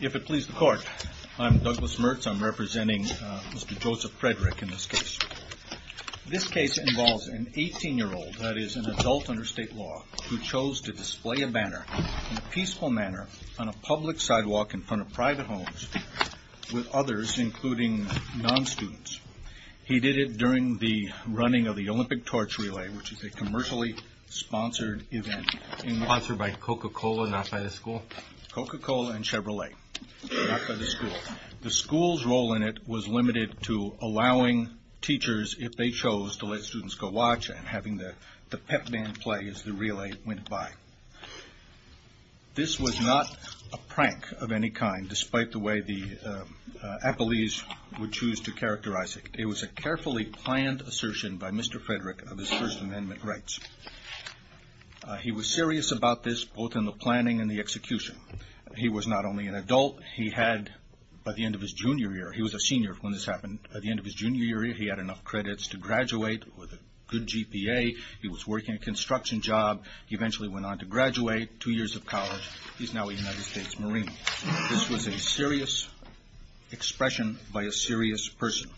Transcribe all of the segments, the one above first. If it pleases the Court, I am Douglas Morse. I am representing Mr. Joseph Frederick in this case. This case involves an 18-year-old, that is, an adult under state law, who chose to display a banner in a peaceful manner on a public sidewalk in front of private homes with others, including non-students. He did it during the running of the Olympic Torch Relay, which is a commercially-sponsored event. The school's role in it was limited to allowing teachers, if they chose, to let students go watch and having the pep band play as the This was not a prank of any kind, despite the way the appellees would choose to characterize it. It was a carefully planned assertion by Mr. Frederick of his First Amendment rights. He was serious about this, both in the planning and the execution. He was not only an adult, he had, by the end of his junior year, he was a senior when this happened, by the end of his junior year he had enough credits to graduate with a good GPA, he was working a to graduate, two years of college, he's now a United States Marine. This was a serious expression by a serious person.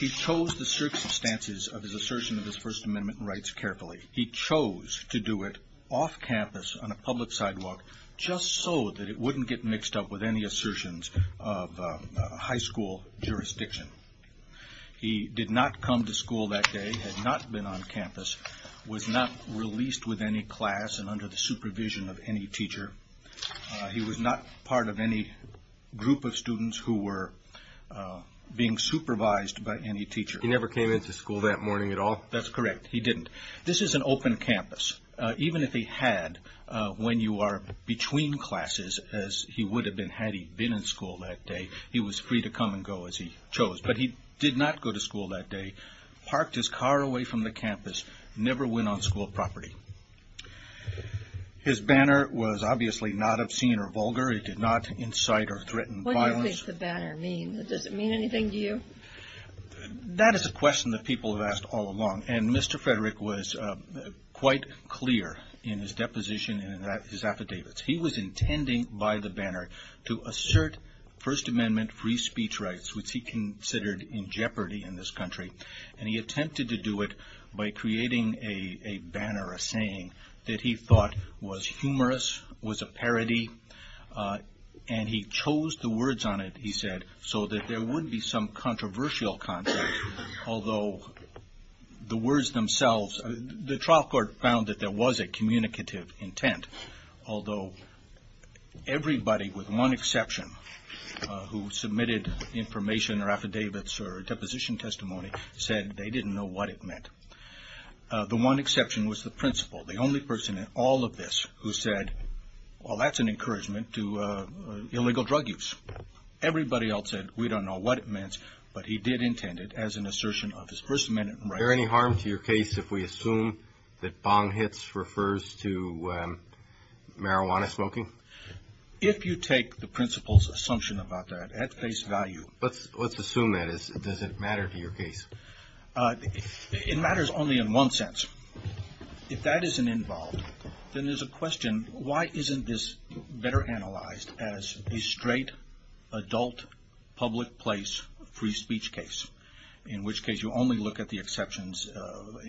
He chose the circumstances of his assertion of his First Amendment rights carefully. He chose to do it off campus on a public sidewalk, just so that it wouldn't get mixed up with any assertions of high school jurisdiction. He did not come to school that day, had not been on campus, was not released with any class and under the supervision of any teacher. He was not part of any group of students who were being supervised by any teacher. He never came into school that morning at all? That's correct, he didn't. This is an open campus. Even if he had, when you are between classes, as he would have been had he been in school that day, he was free to come and go as he chose. But he did not go to school that day, parked his car away from the campus, never went on school property. His banner was obviously not obscene or vulgar, it did not incite or threaten violence. What do you think the banner means? Does it mean anything to you? That is a question that people have asked all along and Mr. Frederick was quite clear in his deposition and in his affidavits. He was intending by the banner to assert First Amendment free speech rights, which he considered in jeopardy in this country. He attempted to do it by creating a banner, a saying, that he thought was humorous, was a parody. He chose the words on it, he said, so that there would be some controversial content. Although the words themselves, the trial court found that there was a communicative intent. Although everybody, with one exception, who submitted information or affidavits or a deposition testimony, said they didn't know what it meant. The one exception was the principal, the only person in all of this who said, well that's an encouragement to illegal drug use. Everybody else said we don't know what it meant, but he did intend it as an assertion of his First Amendment rights. Is there any harm to your case if we assume that bong hits refers to marijuana smoking? If you take the principal's assumption about that at face value. Let's assume that. Does it matter to your case? It matters only in one sense. If that isn't involved, then there's a question, why isn't this better analyzed as a straight, adult, public place free speech case? In which case you only look at the exceptions,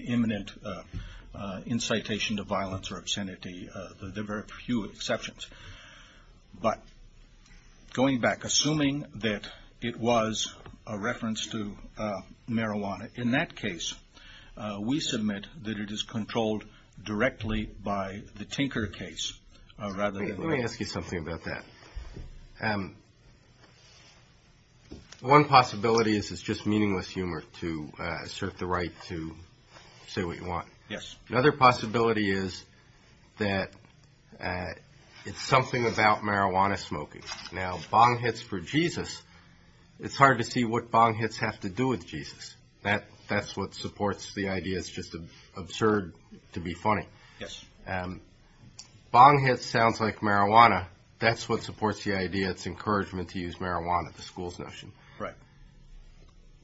imminent incitation to exceptions. But, going back, assuming that it was a reference to marijuana, in that case, we submit that it is controlled directly by the Tinker case, rather than... Let me ask you something about that. One possibility is it's just meaningless humor to assert the it's something about marijuana smoking. Now, bong hits for Jesus, it's hard to see what bong hits have to do with Jesus. That's what supports the idea it's just absurd to be funny. Bong hits sounds like marijuana. That's what supports the idea it's encouragement to use marijuana, the school's notion.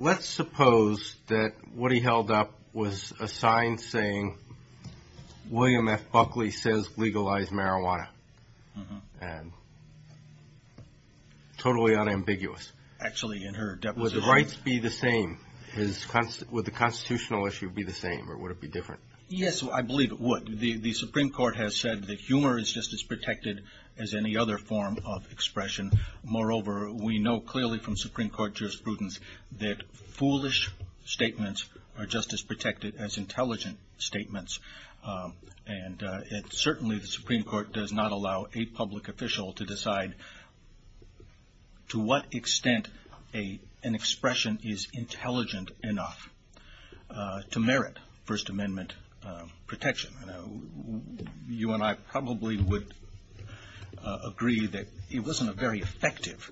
Let's suppose that what he held up was a sign saying, William F. Buckley says legalize marijuana. Totally unambiguous. Actually in her deposition... Would the rights be the same? Would the constitutional issue be the same, or would it be different? Yes, I believe it would. The Supreme Court has said that humor is just as protected as any other form of expression. Moreover, we know clearly from Supreme Court jurisprudence that foolish statements are just as protected as intelligent statements. Certainly the Supreme Court does not allow a public official to decide to what extent an expression is intelligent enough to merit First Amendment protection. You and I probably would agree that it wasn't a very effective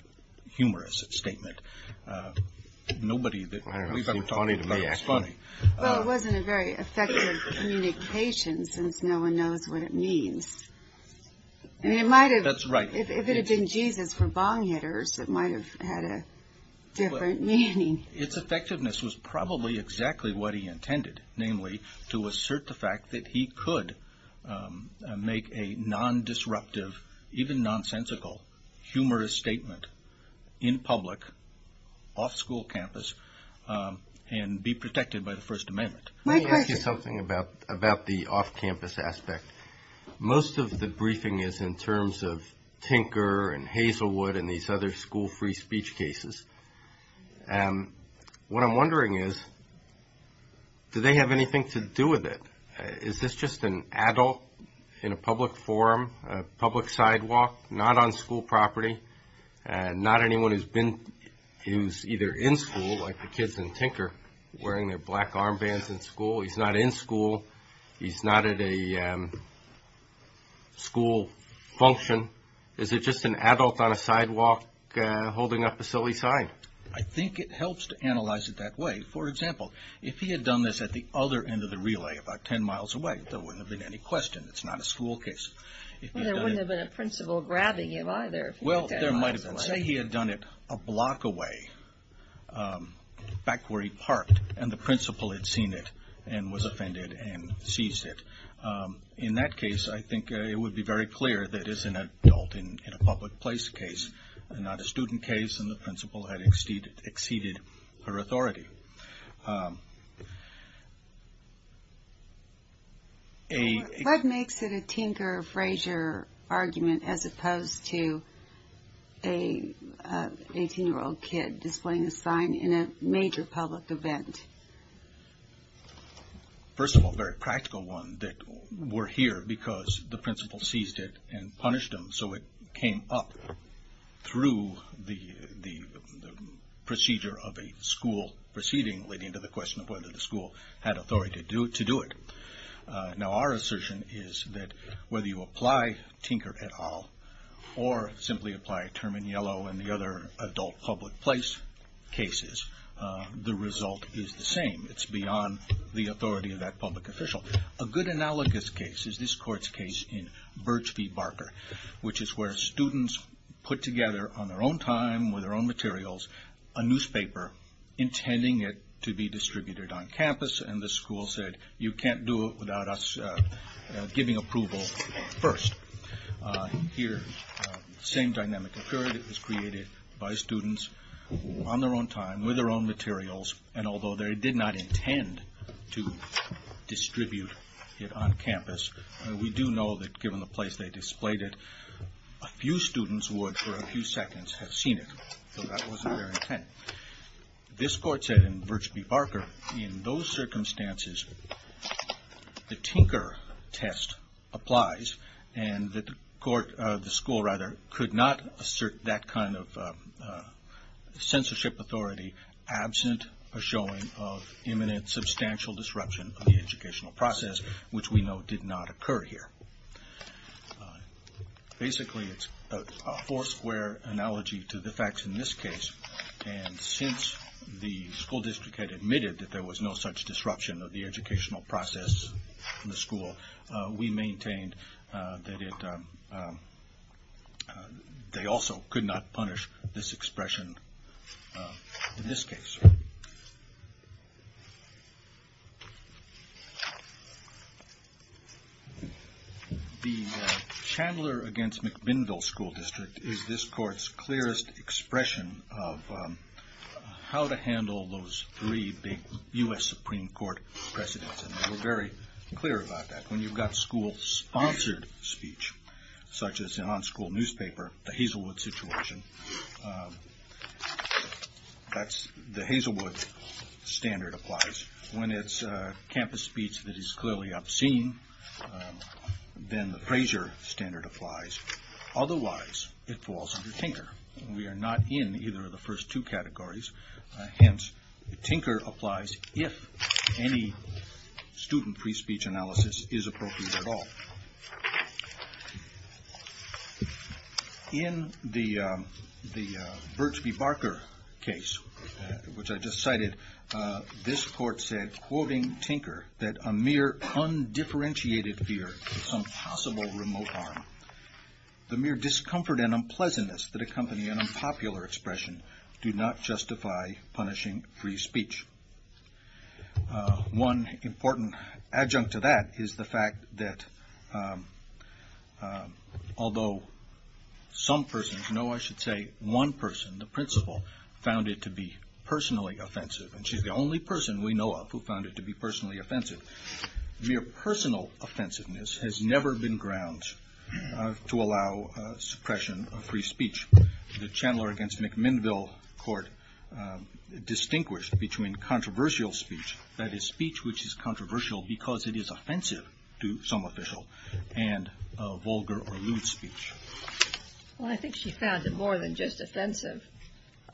humorous statement. Nobody that we thought was funny. It wasn't a very effective communication since no one knows what it means. If it had been Jesus for bong hitters, it might have had a different meaning. Its effectiveness was probably exactly what he intended, namely to assert the fact that he could make a non-disruptive, even nonsensical, humorous statement in public, off school campus, and be protected by the First Amendment. Let me ask you something about the off campus aspect. Most of the briefing is in terms of Tinker and Hazelwood and these other school free speech cases. What I'm wondering is, do they have anything to do with it? Is this just an adult in a public forum, a public sidewalk, not on school property? Not anyone who's either in school, like the kids in Tinker, wearing their black armbands in school. He's not in school. He's not at a school function. Is it just an adult on a sidewalk holding up a silly sign? I think it helps to analyze it that way. For example, if he had done this at the other end of the relay, about 10 miles away, there wouldn't have been any question. It's not a school case. Well, there wouldn't have been a principal grabbing him, either, if he had done it miles away. Say he had done it a block away, back where he parked, and the principal had seen it and was offended and seized it. In that case, I think it would be very clear that it's an adult in a public place case, not a student case, and the principal had exceeded her authority. What makes it a Tinker-Frazier argument, as opposed to an 18-year-old kid displaying a sign in a major public event? First of all, a very practical one, that we're here because the principal seized it and punished him, so it came up through the procedure of a school proceeding, leading to the question of whether the school had authority to do it. Our assertion is that whether you apply Tinker et al., or simply apply Term and Yellow and the other adult public place cases, the result is the same. It's beyond the authority of that public official. A good analogous case is this court's case in Birch v. Barker, which is where students put together, on their own time, with their own materials, a newspaper intending it to be distributed on campus, and the school said, you can't do it without us giving approval first. Here, the same dynamic occurred. It was created by students, on their own time, with their own materials, and although they did not intend to distribute it on campus, we do know that given the place they displayed it, a few students would, for a few seconds, have seen it. So that wasn't their intent. This court said in Birch v. Barker, in those circumstances, the Tinker test applies, and the school could not assert that kind of censorship authority, absent a showing of imminent substantial disruption of the educational process, which we know did not occur here. Basically, it's a four-square analogy to the facts in this case, and since the school district had admitted that there was no such disruption of the educational process in the school, we maintained that they also could not punish this expression in this case. The Chandler v. McMinnville School District is this court's clearest expression of how to handle those three big U.S. Supreme Court precedents, and we're very clear about that. When you've got school-sponsored speech, such as on school newspaper, the Hazelwood situation, the Hazelwood standard applies. When it's campus speech that is clearly obscene, then the Frazier standard applies. Otherwise, it falls under Tinker. We are not in either of those first two categories. Hence, Tinker applies if any student free speech analysis is appropriate at all. In the Burks v. Barker case, which I just cited, this court said, quoting Tinker, that a mere undifferentiated fear of some possible remote arm, the mere discomfort and unpleasantness that accompany an unpopular expression do not justify punishing free speech. One important adjunct to that is the fact that although some persons, no, I should say one person, the principal, found it to be personally offensive, and she's the only person we know of who found it to be personally offensive, mere personal offensiveness has never been a grounds to allow suppression of free speech. The Chandler v. McMinnville Court distinguished between controversial speech, that is, speech which is controversial because it is offensive to some official, and vulgar or lewd speech. Well, I think she found it more than just offensive.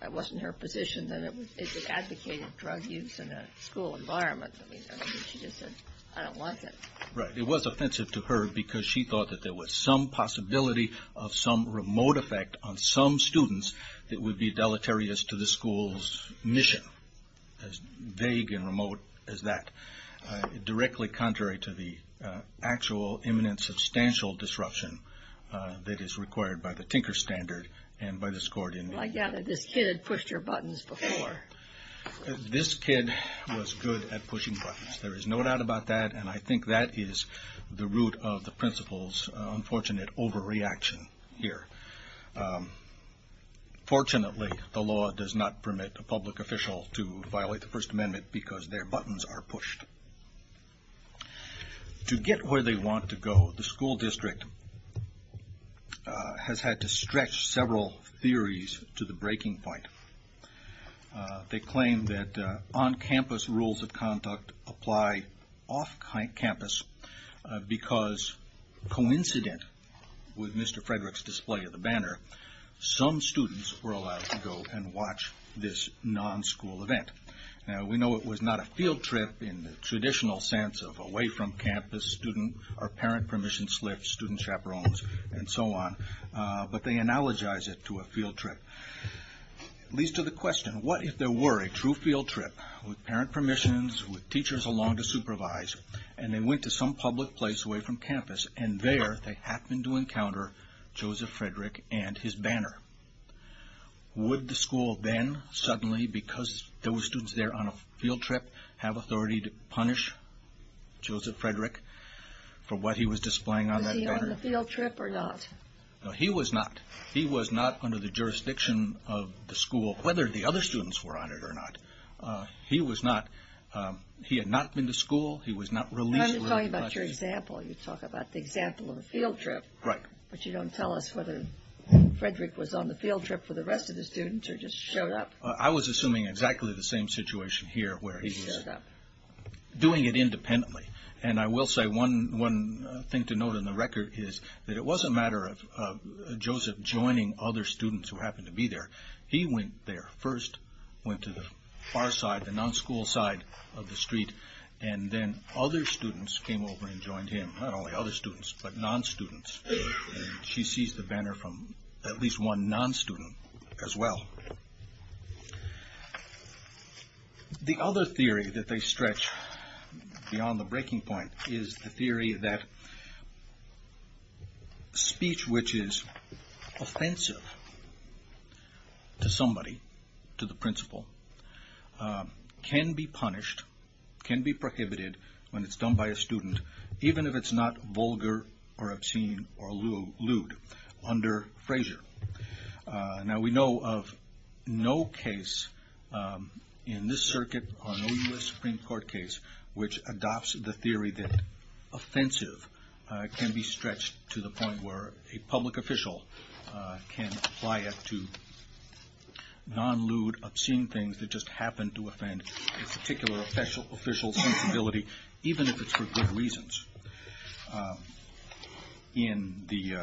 It wasn't her position that it advocated drug use in a school environment. I mean, she just said, I don't like it. Right. It was offensive to her because she thought that there was some possibility of some remote effect on some students that would be deleterious to the school's mission, as vague and remote as that, directly contrary to the actual imminent substantial disruption that is required by the Tinker standard and by this court in New York. Well, I gather this kid had pushed her buttons before. This kid was good at pushing buttons. There is no doubt about that, and I think that is the root of the principal's unfortunate overreaction here. Fortunately, the law does not permit a public official to violate the First Amendment because their buttons are pushed. To get where they want to go, the school district has had to stretch several theories to the point that they claim that on-campus rules of conduct apply off-campus because, coincident with Mr. Frederick's display of the banner, some students were allowed to go and watch this non-school event. Now, we know it was not a field trip in the traditional sense of away from campus, student or parent permission slips, student chaperones, and so on, but they analogize it to a field trip. It leads to the question, what if there were a true field trip with parent permissions, with teachers along to supervise, and they went to some public place away from campus, and there they happened to encounter Joseph Frederick and his banner? Would the school then suddenly, because there were students there on a field trip, have authority to punish Joseph Frederick for what he was displaying on that banner? Was he on the field trip or not? No, he was not. He was not under the jurisdiction of the school, whether the other students were on it or not. He was not. He had not been to school. He was not released. I'm talking about your example. You talk about the example of the field trip, but you don't tell us whether Frederick was on the field trip for the rest of the students or just showed up. I was assuming exactly the same situation here where he was doing it independently. I will say one thing to note on the record is that it was a matter of Joseph joining other students who happened to be there. He went there first, went to the far side, the non-school side of the street, and then other students came over and joined him. Not only other students, but non-students. She sees the banner from at least one non-student as well. The other theory that they stretch beyond the breaking point is the theory that speech which is offensive to somebody, to the principal, can be punished, can be prohibited when it's done by a student, even if it's not vulgar or obscene or lewd under Frasier. Now, we know of no case in this circuit or no U.S. Supreme Court case which adopts the theory that offensive can be stretched to the point where a public official can apply it to non-lewd, obscene things that just happen to offend a particular official's sensibility, even if it's for good reasons. In the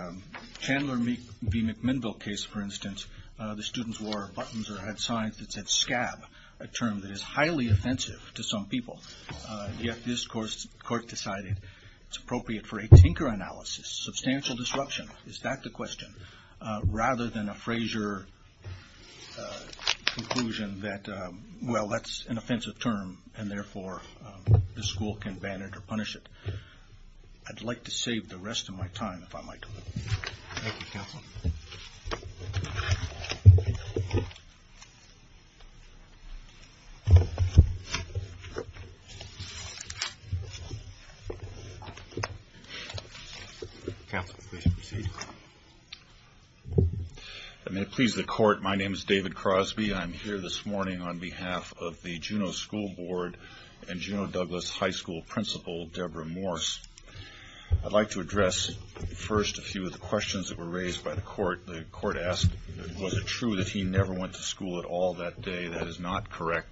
Chandler v. McMinnville case, for instance, the students wore buttons or had signs that said scab, a term that is highly offensive to some people. Yet this court decided it's appropriate for a tinker analysis, substantial disruption, is that the question, rather than a Frasier conclusion that, well, that's an offensive term and therefore the school can punish it, I'd like to save the rest of my time, if I might. Thank you, counsel. Counsel, please proceed. And may it please the court, my name is David Crosby. I'm here this morning on behalf of Angelo Douglas High School principal, Deborah Morse. I'd like to address first a few of the questions that were raised by the court. The court asked, was it true that he never went to school at all that day? That is not correct.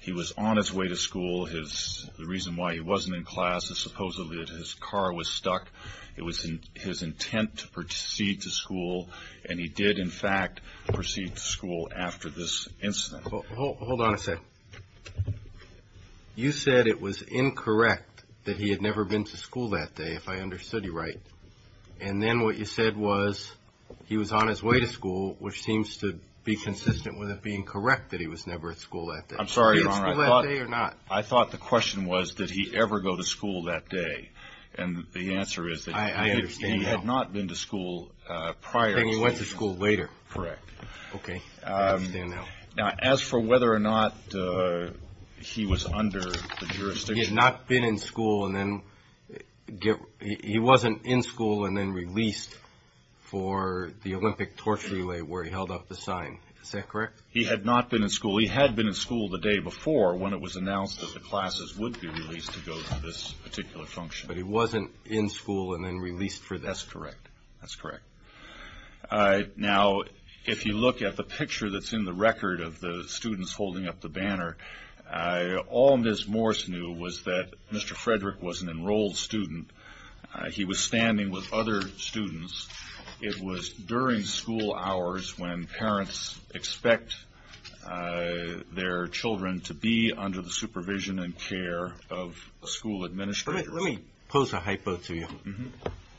He was on his way to school. The reason why he wasn't in class is supposedly that his car was stuck. It was his intent to proceed to school, and he did, in fact, proceed to school after this incident. Hold on a sec. You said it was incorrect that he had never been to school that day, if I understood you right. And then what you said was, he was on his way to school, which seems to be consistent with it being correct that he was never at school that day. I'm sorry, Your Honor, I thought the question was, did he ever go to school that day? And the answer is that he had not been to school prior to this incident. Then he went to school later. Correct. Okay. I understand now. Now, as for whether or not he was under the jurisdiction... He had not been in school, and then he wasn't in school and then released for the Olympic torch relay where he held up the sign. Is that correct? He had not been in school. He had been in school the day before when it was announced that the classes would be released to go to this particular function. But he wasn't in school and then released for this. That's correct. That's correct. Now, if you look at the picture that's in the record of the students holding up the banner, all Ms. Morse knew was that Mr. Frederick was an enrolled student. He was standing with other students. It was during school hours when parents expect their children to be under the supervision and care of a school administrator. Let me pose a hypo to you.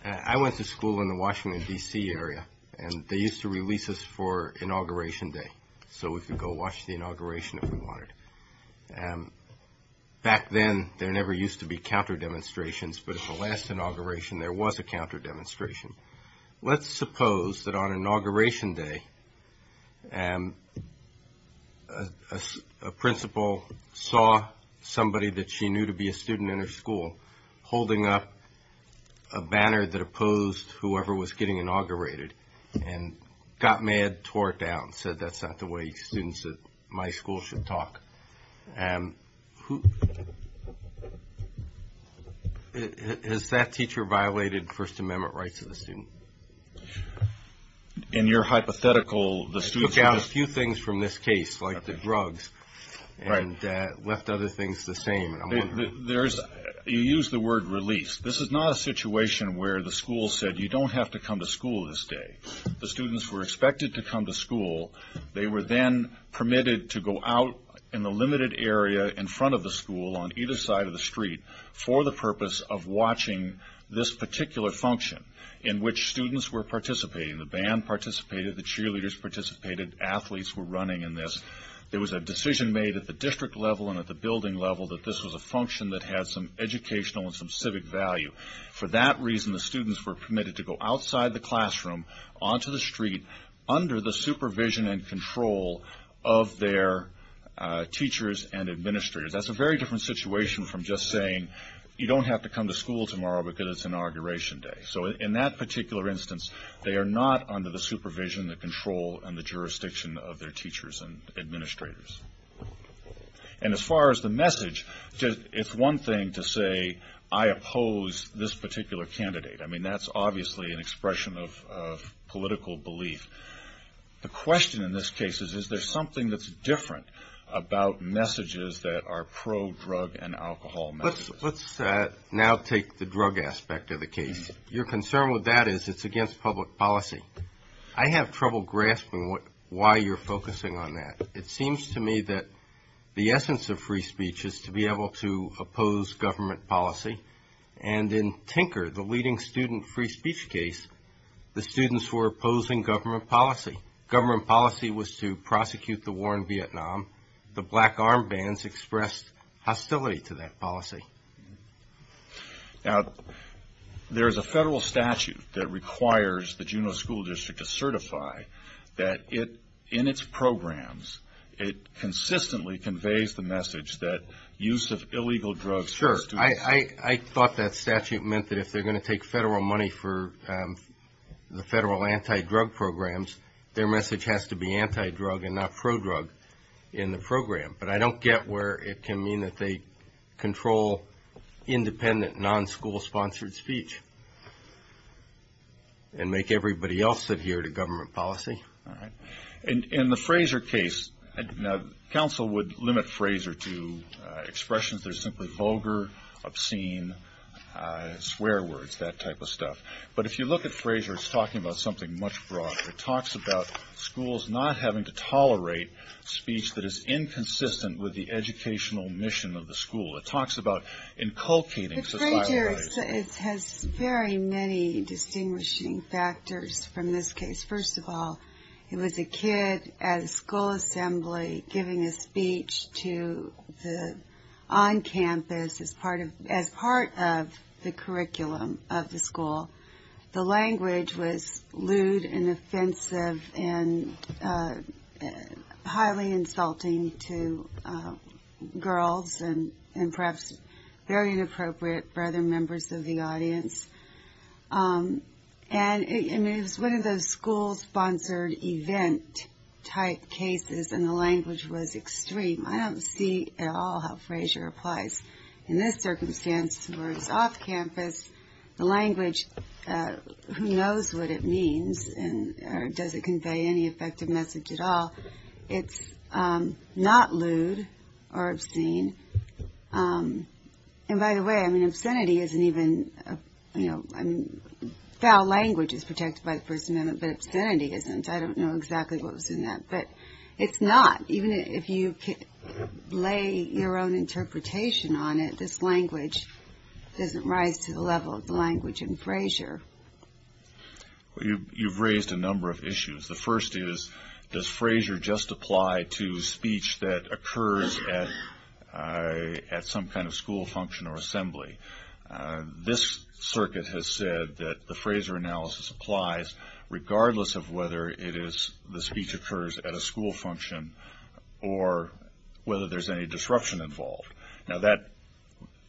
I went to school in the Washington, D.C. area, and they used to release us for Inauguration Day, so we could go watch the inauguration if we wanted. Back then, there never used to be counter demonstrations, but at the last inauguration there was a counter demonstration. Let's suppose that on Inauguration Day, a principal saw somebody that she knew to be a student in her school holding up a banner that opposed whoever was getting inaugurated and got mad, tore it down, said that's not the way students at my school should talk. Has that teacher violated First Amendment rights of the student? In your hypothetical, the students took out a few things from this case, like the drugs, and left other things the same. You used the word release. This is not a situation where the school said you don't have to come to school this day. The students were expected to come to school. They were then permitted to go out in the limited area in front of the school on either side of the street for the purpose of watching this particular function in which students were participating. The band participated, the cheerleaders participated, athletes were running in this. There was a decision made at the district level and at the building level that this was a function that had some educational and some civic value. For that reason, the students were permitted to go outside the classroom, onto the street, under the supervision and control of their teachers and administrators. That's a very different situation from just saying you don't have to come to school tomorrow because it's Inauguration Day. In that particular instance, they are not under the supervision, the control, and the jurisdiction of their teachers and administrators. As far as the message, it's one thing to say I oppose this particular candidate. That's obviously an expression of political belief. The question in this case is, is there something that's different about messages that are pro-drug and alcohol messages? Let's now take the drug aspect of the case. Your concern with that is it's against public policy. I have trouble grasping why you're focusing on that. It seems to me that the essence of free speech is to be able to oppose government policy. And in Tinker, the leading student free speech case, the students were opposing government policy. Government policy was to prosecute the war in Vietnam. The black armbands expressed hostility to that policy. Now, there's a federal statute that requires the Juneau School District to certify that in its programs, it consistently conveys the message that use of illegal drugs. Sure. I thought that statute meant that if they're going to take federal money for the federal anti-drug programs, their message has to be anti-drug and not pro-drug in the program. But I don't get where it can mean that they control independent, non-school sponsored speech and make everybody else adhere to government policy. All right. In the Fraser case, now, counsel would limit Fraser to expressions that are simply vulgar, obscene, swear words, that type of stuff. But if you look at Fraser, it's talking about something much broader. It talks about schools not having to tolerate speech that is inconsistent with the educational mission of the school. It talks about inculcating societal values. The Fraser has very many distinguishing factors from this case. First of all, it was a kid at a school assembly giving a speech on campus as part of the curriculum of the school. The language was lewd and offensive and highly insulting to girls and perhaps very inappropriate for other members of the audience. And it was one of those school-sponsored event type cases, and the language was extreme. I don't see at all how Fraser applies in this circumstance where it's off campus. The language, who knows what it means or does it convey any effective message at all. It's not lewd or obscene. And by the way, I mean, obscenity isn't even, foul language is protected by the First Amendment, but obscenity isn't. I don't know exactly what was in that, but it's not. Even if you lay your own interpretation on it, this language doesn't rise to the level of the language in Fraser. You've raised a number of issues. The first is, does Fraser just apply to speech that occurs at some kind of school function or assembly? This circuit has said that the Fraser analysis applies regardless of whether the speech occurs at a school function or whether there's any disruption involved. Now that,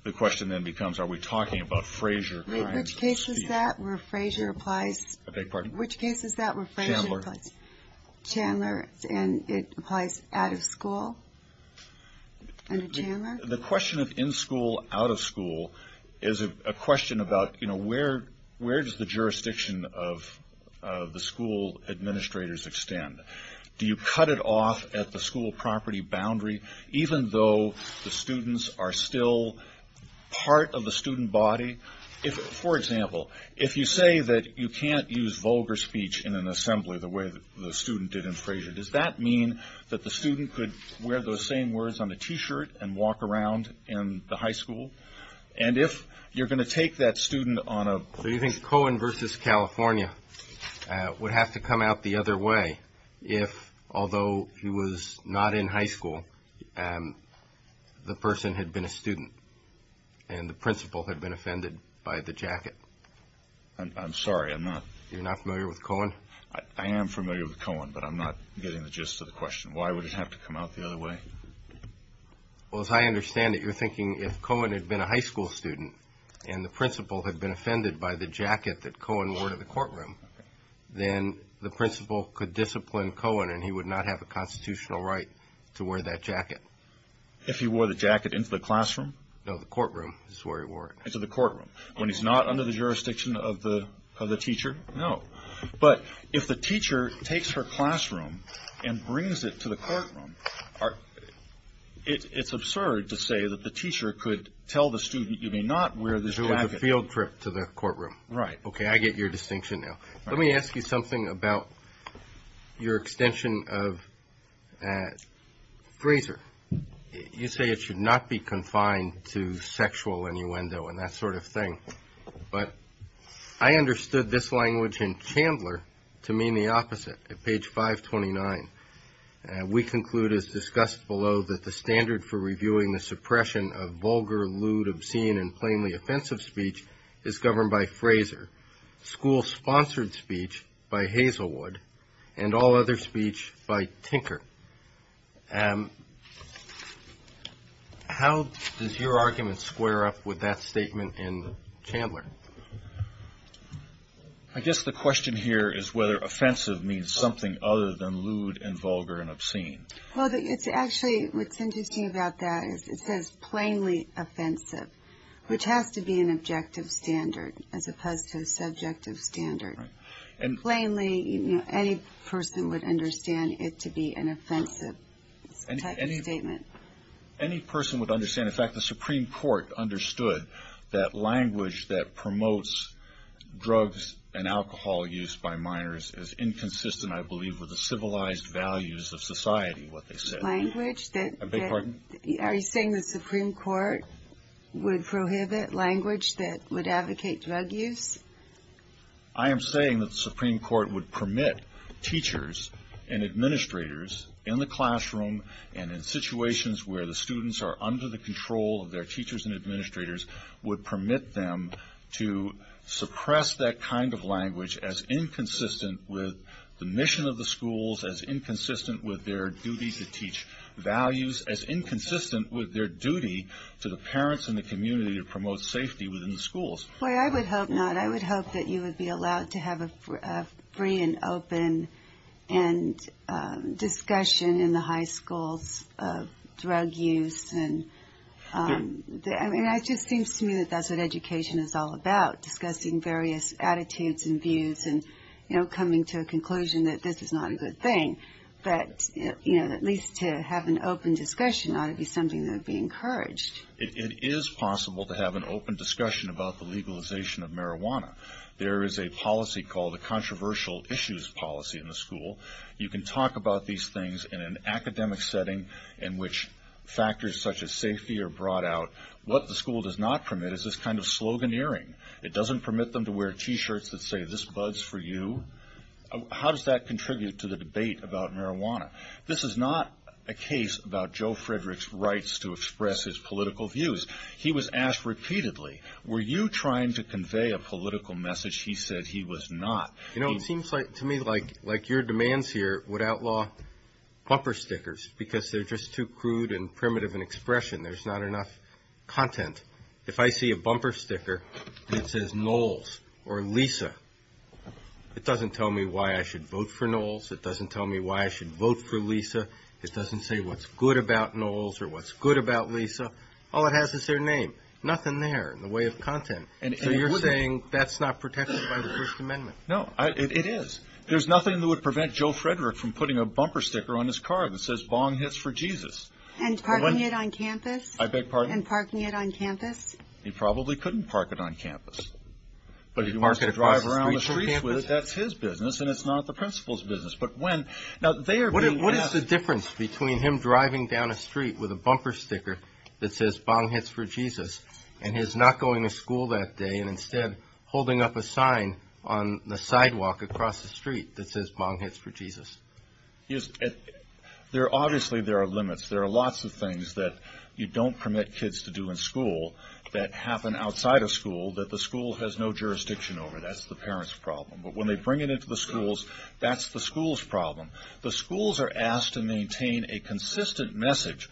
the question then becomes, are we talking about Fraser? Which case is that where Fraser applies? I beg your pardon? Which case is that where Fraser applies? Chandler. Chandler, and it applies out of school under Chandler? The question of in school, out of school is a question about where does the jurisdiction of the school administrators extend? Do you cut it off at the school property boundary, even though the students are still part of the student body? For example, if you say that you can't use vulgar speech in an assembly the way the student did in Fraser, does that mean that the student could wear those same words on a T-shirt and walk around in the high school? And if you're going to take that student on a... So you think Cohen versus California would have to come out the other way if, although he was not in high school, the person had been a student and the principal had been offended by the jacket? I'm sorry, I'm not. You're not familiar with Cohen? I am familiar with Cohen, but I'm not getting the gist of the question. Why would it have to come out the other way? Well, as I understand it, you're thinking if Cohen had been a high school student and the principal had been offended by the jacket that Cohen wore to the courtroom, then the principal could discipline Cohen and he would not have a constitutional right to wear that jacket. If he wore the jacket into the classroom? No, the courtroom is where he wore it. Into the courtroom. When he's not under the jurisdiction of the teacher? No. But if the teacher takes her classroom and brings it to the courtroom, it's absurd to say that the teacher could tell the student, you may not wear this jacket. So it's a field trip to the courtroom. Right. Okay, I get your distinction now. Let me ask you something about your extension of Fraser. You say it should not be confined to sexual innuendo and that sort of thing, but I understood this language in Chandler to mean the opposite. At page 529, we conclude as discussed below that the standard for reviewing the suppression of vulgar, lewd, obscene, and plainly offensive speech is governed by Fraser, school-sponsored speech by Hazelwood, and all other speech by Tinker. How does your argument square up with that statement in Chandler? I guess the question here is whether offensive means something other than lewd and vulgar and obscene. Well, actually, what's interesting about that is it says plainly offensive, which has to be an objective standard as opposed to a subjective standard. Right. Plainly, any person would understand it to be an offensive type of statement. Any person would understand. In fact, the Supreme Court understood that language that promotes drugs and alcohol use by minors is inconsistent, I believe, with the civilized values of society, what they said. Language that... I beg your pardon? Are you saying the Supreme Court would prohibit language that would advocate drug use? I am saying that the Supreme Court would permit teachers and administrators in the classroom and in situations where the students are under the control of their teachers and administrators would permit them to suppress that kind of language as inconsistent with the mission of the schools, as inconsistent with their duty to teach values, as inconsistent with their duty to the parents and the community to promote safety within the schools. Boy, I would hope not. I would hope that you would be allowed to have a free and open discussion in the high schools of drug use. I mean, it just seems to me that that's what education is all about, discussing various attitudes and views and, you know, coming to a conclusion that this is not a good thing. But, you know, at least to have an open discussion ought to be something that would be encouraged. It is possible to have an open discussion about the legalization of marijuana. There is a policy called a controversial issues policy in the school. You can talk about these things in an academic setting in which factors such as safety are brought out. What the school does not permit is this kind of sloganeering. It doesn't permit them to wear T-shirts that say, this buds for you. How does that contribute to the debate about marijuana? This is not a case about Joe Frederick's rights to express his political views. He was asked repeatedly, were you trying to convey a political message? He said he was not. You know, it seems to me like your demands here would outlaw bumper stickers because they're just too crude and primitive in expression. There's not enough content. If I see a bumper sticker that says Knowles or Lisa, it doesn't tell me why I should vote for Knowles. It doesn't tell me why I should vote for Lisa. It doesn't say what's good about Knowles or what's good about Lisa. All it has is their name. Nothing there in the way of content. So you're saying that's not protected by the First Amendment? No, it is. There's nothing that would prevent Joe Frederick from putting a bumper sticker on his car that says, bong hits for Jesus. And parking it on campus? I beg pardon? And parking it on campus? He probably couldn't park it on campus. But he'd park it across the street from campus. But if he wants to drive around the streets with it, that's his business and it's not the principal's business. But when... What is the difference between him driving down a street with a bumper sticker that says bong hits for Jesus and his not going to school that day and instead holding up a sign on the sidewalk across the street that says bong hits for Jesus? Obviously there are limits. There are lots of things that you don't permit kids to do in school that happen outside of school that the school has no jurisdiction over. That's the parent's problem. But when they bring it into the schools, that's the school's problem. The schools are asked to maintain a consistent message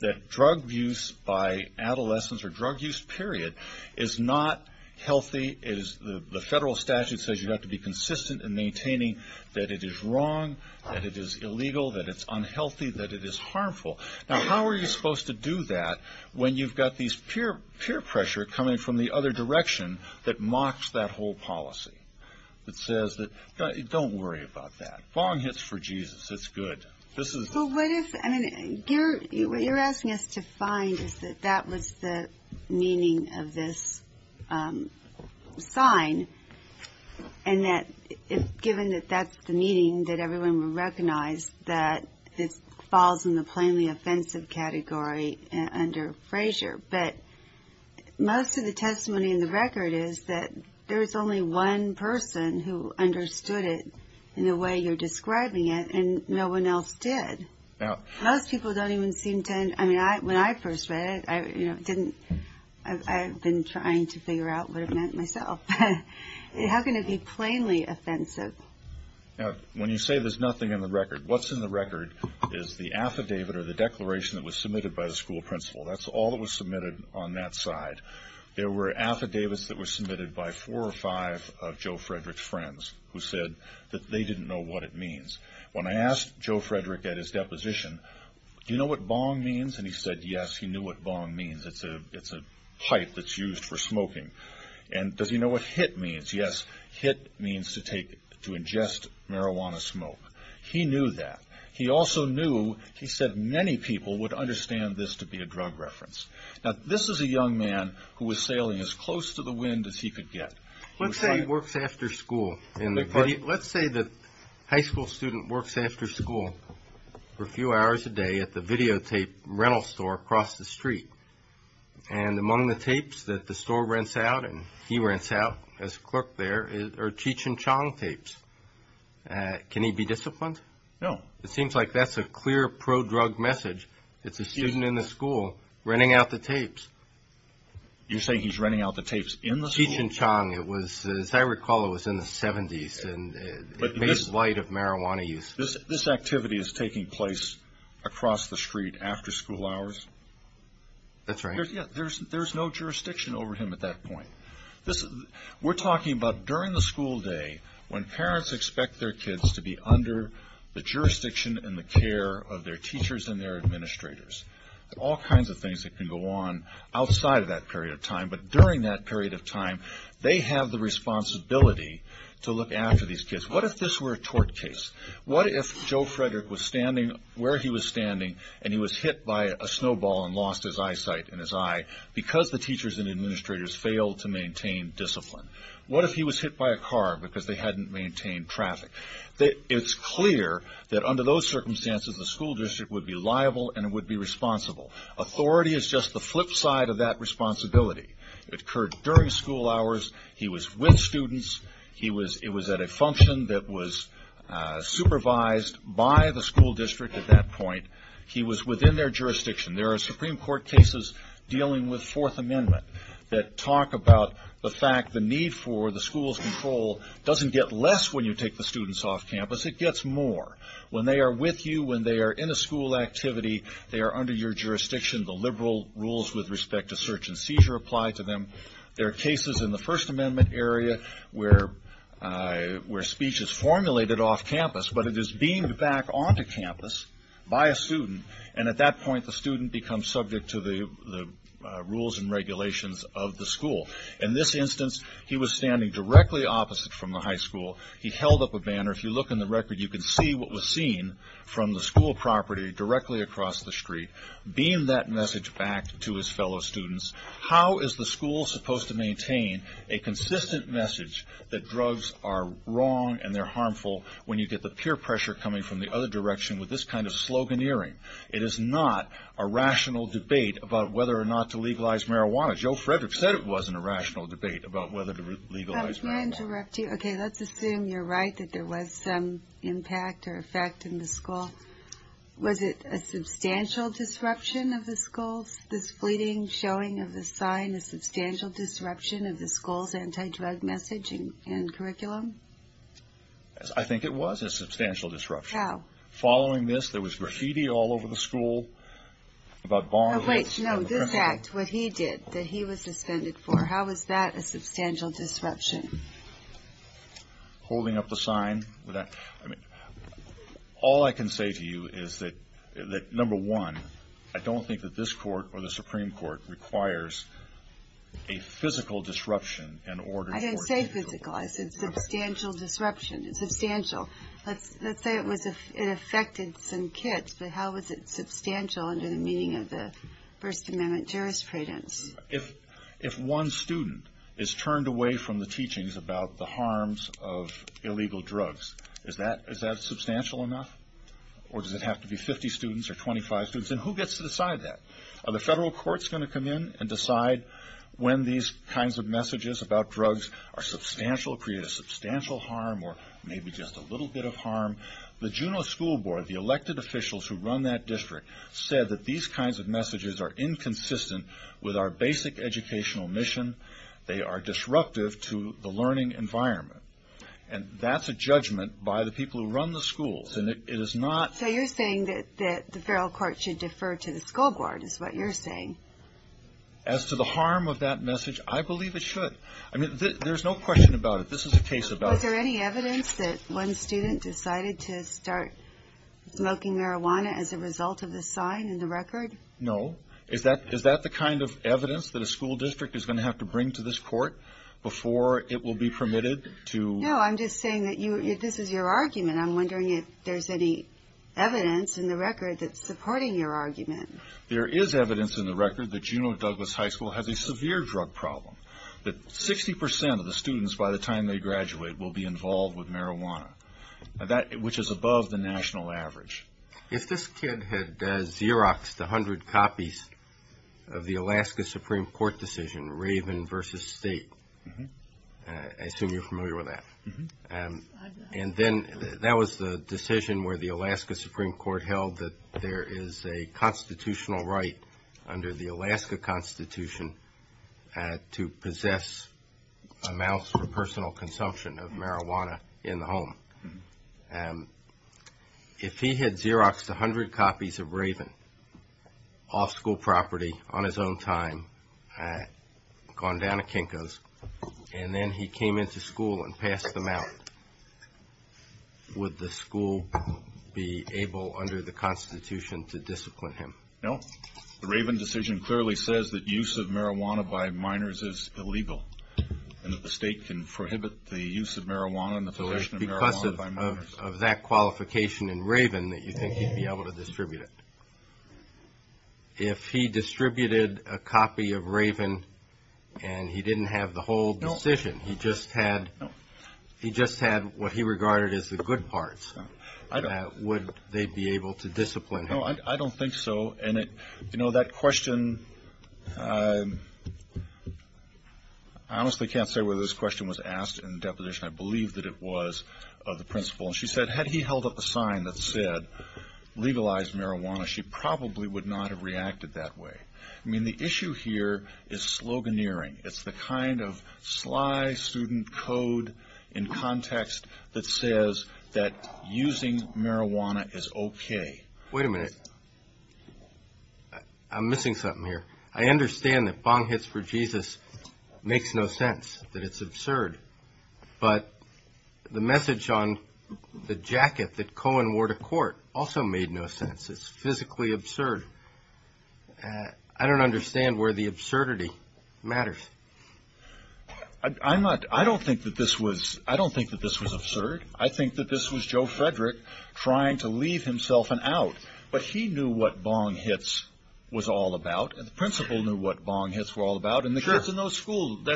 that drug use by adolescents or drug use period is not healthy. The federal statute says you have to be consistent in maintaining that it is wrong, that it is illegal, that it's unhealthy, that it is harmful. Now how are you supposed to do that when you've got these peer pressure coming from the other direction that mocks that whole policy that says don't worry about that, bong hits for Jesus, it's good. What you're asking us to find is that that was the meaning of this sign and that given that that's the meaning that everyone would recognize that it falls in the plainly offensive category under Frazier. But most of the testimony in the record is that there is only one person who understood it in the way you're describing it and no one else did. Most people don't even seem to, I mean when I first read it, I didn't, I've been trying to figure out what it meant myself. How can it be plainly offensive? Now when you say there's nothing in the record, what's in the record is the affidavit or the declaration that was submitted by the school principal. That's all that was submitted on that side. There were affidavits that were submitted by four or five of Joe Frederick's friends who said that they didn't know what it means. When I asked Joe Frederick at his deposition, do you know what bong means? And he said yes, he knew what bong means, it's a pipe that's used for smoking. And does he know what hit means? Yes, hit means to take, to ingest marijuana smoke. He knew that. He also knew, he said many people would understand this to be a drug reference. Now this is a young man who was sailing as close to the wind as he could get. Let's say he works after school. Let's say the high school student works after school for a few hours a day at the videotape rental store across the street. And among the tapes that the store rents out and he rents out as clerk there are Cheech and Chong tapes. Can he be disciplined? No. It seems like that's a clear pro-drug message. It's a student in the school renting out the tapes. You're saying he's renting out the tapes in the school? Cheech and Chong. As I recall it was in the 70s and it made light of marijuana use. This activity is taking place across the street after school hours? That's right. There's no jurisdiction over him at that point. We're talking about during the school day when parents expect their kids to be under the jurisdiction and the care of their teachers and their administrators. There are all kinds of things that can go on outside of that period of time, but during that period of time they have the responsibility to look after these kids. What if this were a tort case? What if Joe Frederick was standing where he was standing and he was hit by a snowball and lost his eyesight in his eye because the teachers and administrators failed to maintain discipline? What if he was hit by a car because they hadn't maintained traffic? It's clear that under those circumstances the school district would be liable and it would be responsible. Authority is just the flip side of that responsibility. It occurred during school hours. He was with students. It was at a function that was supervised by the school district at that point. He was with students. The need for the school's control doesn't get less when you take the students off campus. It gets more. When they are with you, when they are in a school activity, they are under your jurisdiction. The liberal rules with respect to search and seizure apply to them. There are cases in the First Amendment area where speech is formulated off campus, but it is beamed back onto campus by a student. At that point the student becomes subject to the rules and regulations of the school. In this instance, he was standing directly opposite from the high school. He held up a banner. If you look in the record, you can see what was seen from the school property directly across the street, beamed that message back to his fellow students. How is the school supposed to maintain a consistent message that drugs are wrong and they're harmful when you get the peer pressure coming from the other direction with this kind of debate about whether or not to legalize marijuana? Joe Frederick said it wasn't a rational debate about whether to legalize marijuana. Let me interrupt you. Let's assume you're right that there was some impact or effect in the school. Was it a substantial disruption of the school, this fleeting showing of the sign, a substantial disruption of the school's anti-drug message and curriculum? I think it was a substantial disruption. How? Following this, there was graffiti all over the school. Wait, no. This act, what he did, that he was suspended for, how is that a substantial disruption? Holding up the sign. All I can say to you is that, number one, I don't think that this court or the Supreme Court requires a physical disruption in order for it to be legalized. It's a substantial disruption. It's substantial. Let's say it affected some kids, but how was it substantial under the meaning of the First Amendment jurisprudence? If one student is turned away from the teachings about the harms of illegal drugs, is that substantial enough? Or does it have to be 50 students or 25 students? And who gets to decide that? Are the federal courts going to come in and decide when these kinds of messages create a substantial harm or maybe just a little bit of harm? The Juneau School Board, the elected officials who run that district, said that these kinds of messages are inconsistent with our basic educational mission. They are disruptive to the learning environment. And that's a judgment by the people who run the schools. And it is not So you're saying that the federal court should defer to the school board, is what you're saying. As to the harm of that message, I believe it should. I mean, there's no question about it. This is a case about Was there any evidence that one student decided to start smoking marijuana as a result of the sign in the record? No. Is that the kind of evidence that a school district is going to have to bring to this court before it will be permitted to No, I'm just saying that this is your argument. I'm wondering if there's any evidence in the record that's supporting your argument. There is evidence in the record that Juneau Douglas High School has a severe drug problem. That 60% of the students by the time they graduate will be involved with marijuana, which is above the national average. If this kid had Xeroxed 100 copies of the Alaska Supreme Court decision, Raven versus State, I assume you're familiar with that. And then that was the decision where the Alaska Supreme Court held that there is a constitutional right under the Alaska Constitution to prohibit students who possess amounts for personal consumption of marijuana in the home. If he had Xeroxed 100 copies of Raven off school property on his own time, gone down to Kinko's, and then he came into school and passed them out, would the school be able under the Constitution to discipline him? No. The Raven decision clearly says that use of marijuana by minors is illegal and that the state can prohibit the use of marijuana and the possession of marijuana by minors. So it's because of that qualification in Raven that you think he'd be able to distribute it. If he distributed a copy of Raven and he didn't have the whole decision, he just had what he regarded as the good parts, would they be able to discipline him? I don't think so. And that question, I honestly can't say whether this question was asked in the deposition. I believe that it was of the principal. And she said, had he held up a sign that said legalize marijuana, she probably would not have reacted that way. I mean, the issue here is sloganeering. It's the kind of sly student code in context that says that using marijuana is okay. Wait a minute. I'm missing something here. I understand that bong hits for Jesus makes no sense, that it's absurd. But the message on the jacket that Cohen wore to court also made no sense. It's physically absurd. I don't understand where the absurdity matters. I don't think that this was absurd. I think that this was Joe Frederick trying to leave himself an out. But he knew what bong hits was all about. And the principal knew what bong hits were all about. And the kids in that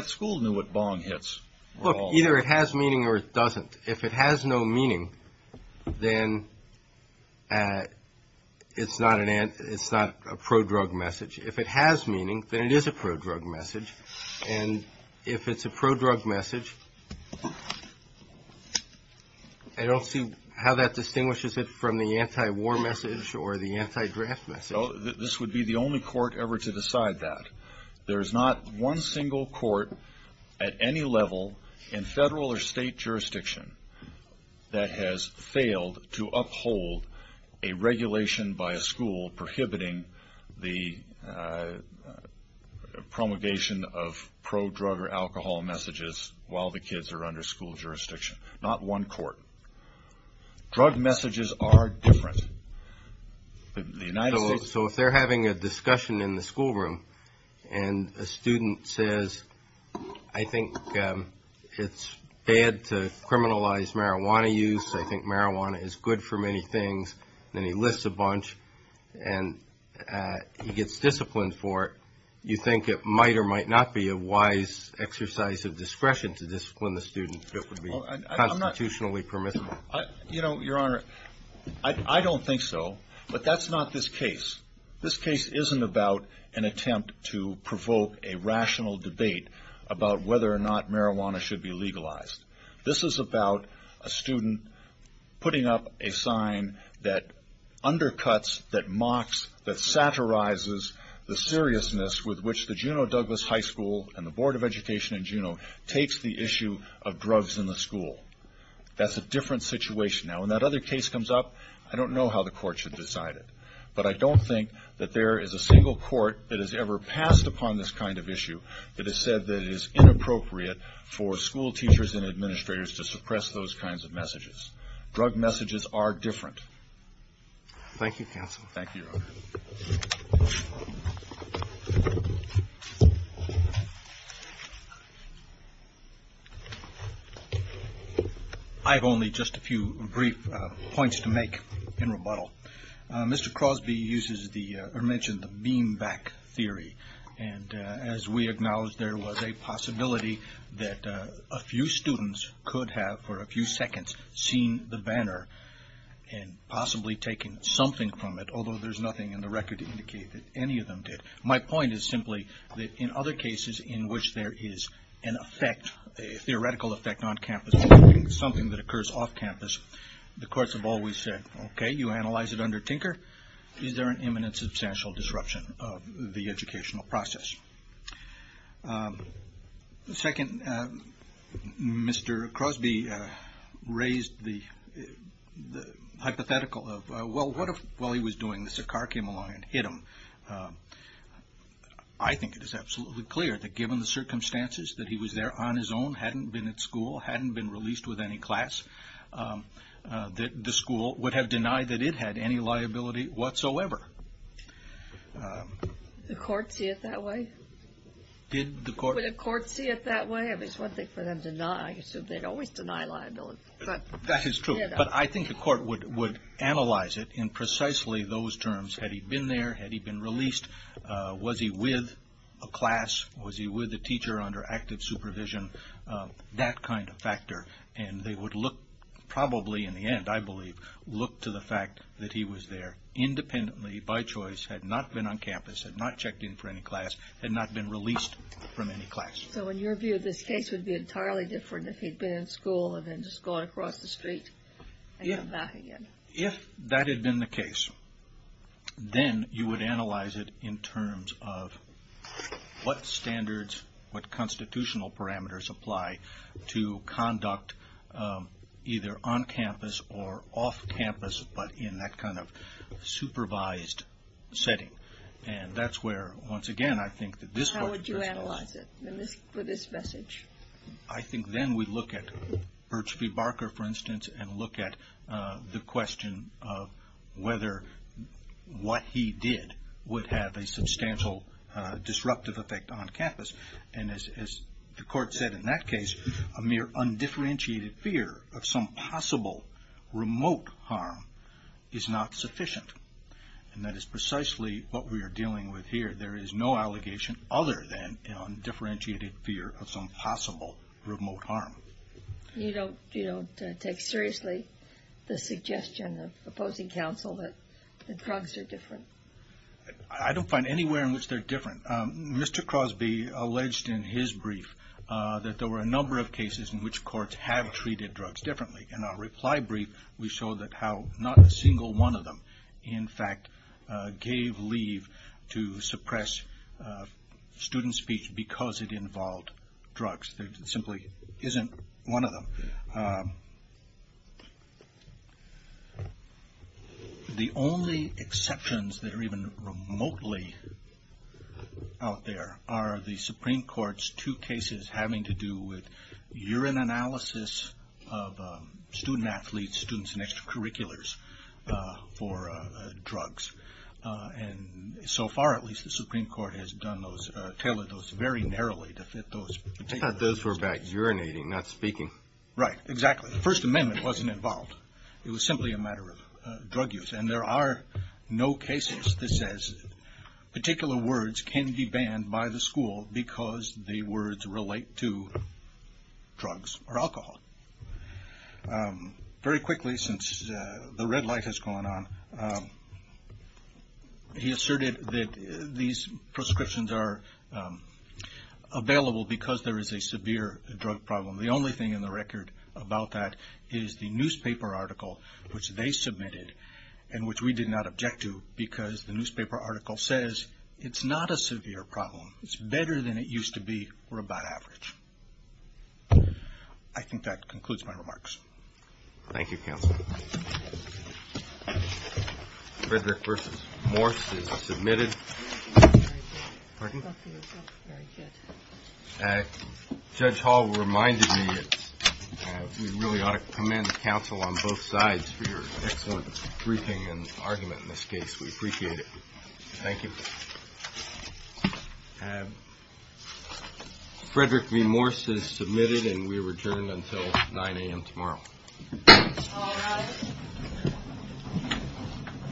school knew what bong hits were all about. Look, either it has meaning or it doesn't. If it has no meaning, then it's not a pro-drug message. If it has meaning, then it is a pro-drug message. And if it's a pro-drug message, I don't see how that could be a pro-drug message or the anti-draft message. This would be the only court ever to decide that. There's not one single court at any level in federal or state jurisdiction that has failed to uphold a regulation by a school prohibiting the promulgation of pro-drug or So if they're having a discussion in the schoolroom and a student says, I think it's bad to criminalize marijuana use, I think marijuana is good for many things, then he lists a bunch and he gets disciplined for it, you think it might or might not be a wise exercise of discretion to discipline the student, I don't think so, but that's not this case. This case isn't about an attempt to provoke a rational debate about whether or not marijuana should be legalized. This is about a student putting up a sign that undercuts, that mocks, that satirizes the seriousness with which the That's a different situation. Now when that other case comes up, I don't know how the court should decide it. But I don't think that there is a single court that has ever passed upon this kind of issue that has said that it is inappropriate for school teachers and administrators to suppress those kinds of messages. Drug messages are different. Thank you, Your Honor. I have only just a few brief points to make in rebuttal. Mr. Crosby mentioned the beam back theory. And as we acknowledged, there was a possibility that a few students could have for a few seconds seen the banner and possibly taken something from it, although there's nothing in the record to indicate that any of them did. My point is simply that in other cases in which there is an effect, a theoretical effect on campus, something that occurs off campus, the courts have always said, OK, you analyze it under Tinker. Is there an imminent substantial disruption of the educational process? Second, Mr. Crosby raised the hypothetical of, well, what if while he was doing this, a car came along and hit him? I think it is absolutely clear that given the circumstances, that he was there on his own, hadn't been at school, hadn't been released with any class, that the school would have denied that it had any liability whatsoever. The court see it that way? Did the court... Would the court see it that way? I mean, it's one thing for them to deny. I assume they'd always deny liability. That is true. But I think the court would analyze it in precisely those terms. Had he been there? Had he been released? Was he with a class? Was he with a teacher under active supervision? That kind of factor. And they would look, probably in the end, I believe, look to the fact that he was there independently, by choice, had not been on campus, had not checked in for any class, had not been released from any class. So in your view, this case would be entirely different if he'd been in school and then just gone across the street and come back again? If that had been the case, then you would analyze it in terms of what standards, what constitutional parameters apply to conduct, either on campus or off campus, but in that kind of supervised setting. And that's where, once again, I think that this... Would you analyze it for this message? I think then we'd look at Birch v. Barker, for instance, and look at the question of whether what he did would have a substantial disruptive effect on campus. And as the court said in that case, a mere undifferentiated fear of some possible remote harm is not sufficient. And that is precisely what we are dealing with here. There is no allegation other than undifferentiated fear of some possible remote harm. You don't take seriously the suggestion of opposing counsel that drugs are different? I don't find anywhere in which they're different. Mr. Crosby alleged in his brief that there were a number of cases in which courts have treated drugs differently. In our reply brief, we show that not a single one of them, in fact, gave leave to suppress student speech because it involved drugs. There simply isn't one of them. The only exceptions that are even remotely out there are the Supreme Court's two cases having to do with urine analysis of student-athletes, students in extracurriculars for drugs. And so far, at least, the Supreme Court has tailored those very narrowly to fit those particular... He thought those were about urinating, not speaking. Right, exactly. The First Amendment wasn't involved. It was simply a matter of drug use. And there are no cases that says particular words can be banned by the school because the words relate to drugs or alcohol. Very quickly, since the red light has gone on, he asserted that these prescriptions are available because there is a severe drug problem. The only thing in the record about that is the newspaper article which they submitted and which we did not object to because the newspaper article says it's not a severe problem. It's better than it used to be or about average. I think that concludes my remarks. Thank you, Counsel. Frederick v. Morse is submitted. Judge Hall reminded me that we really ought to commend counsel on both sides for your excellent briefing and argument in this case. We appreciate it. Thank you. Frederick v. Morse is submitted, and we return until 9 a.m. tomorrow. All rise.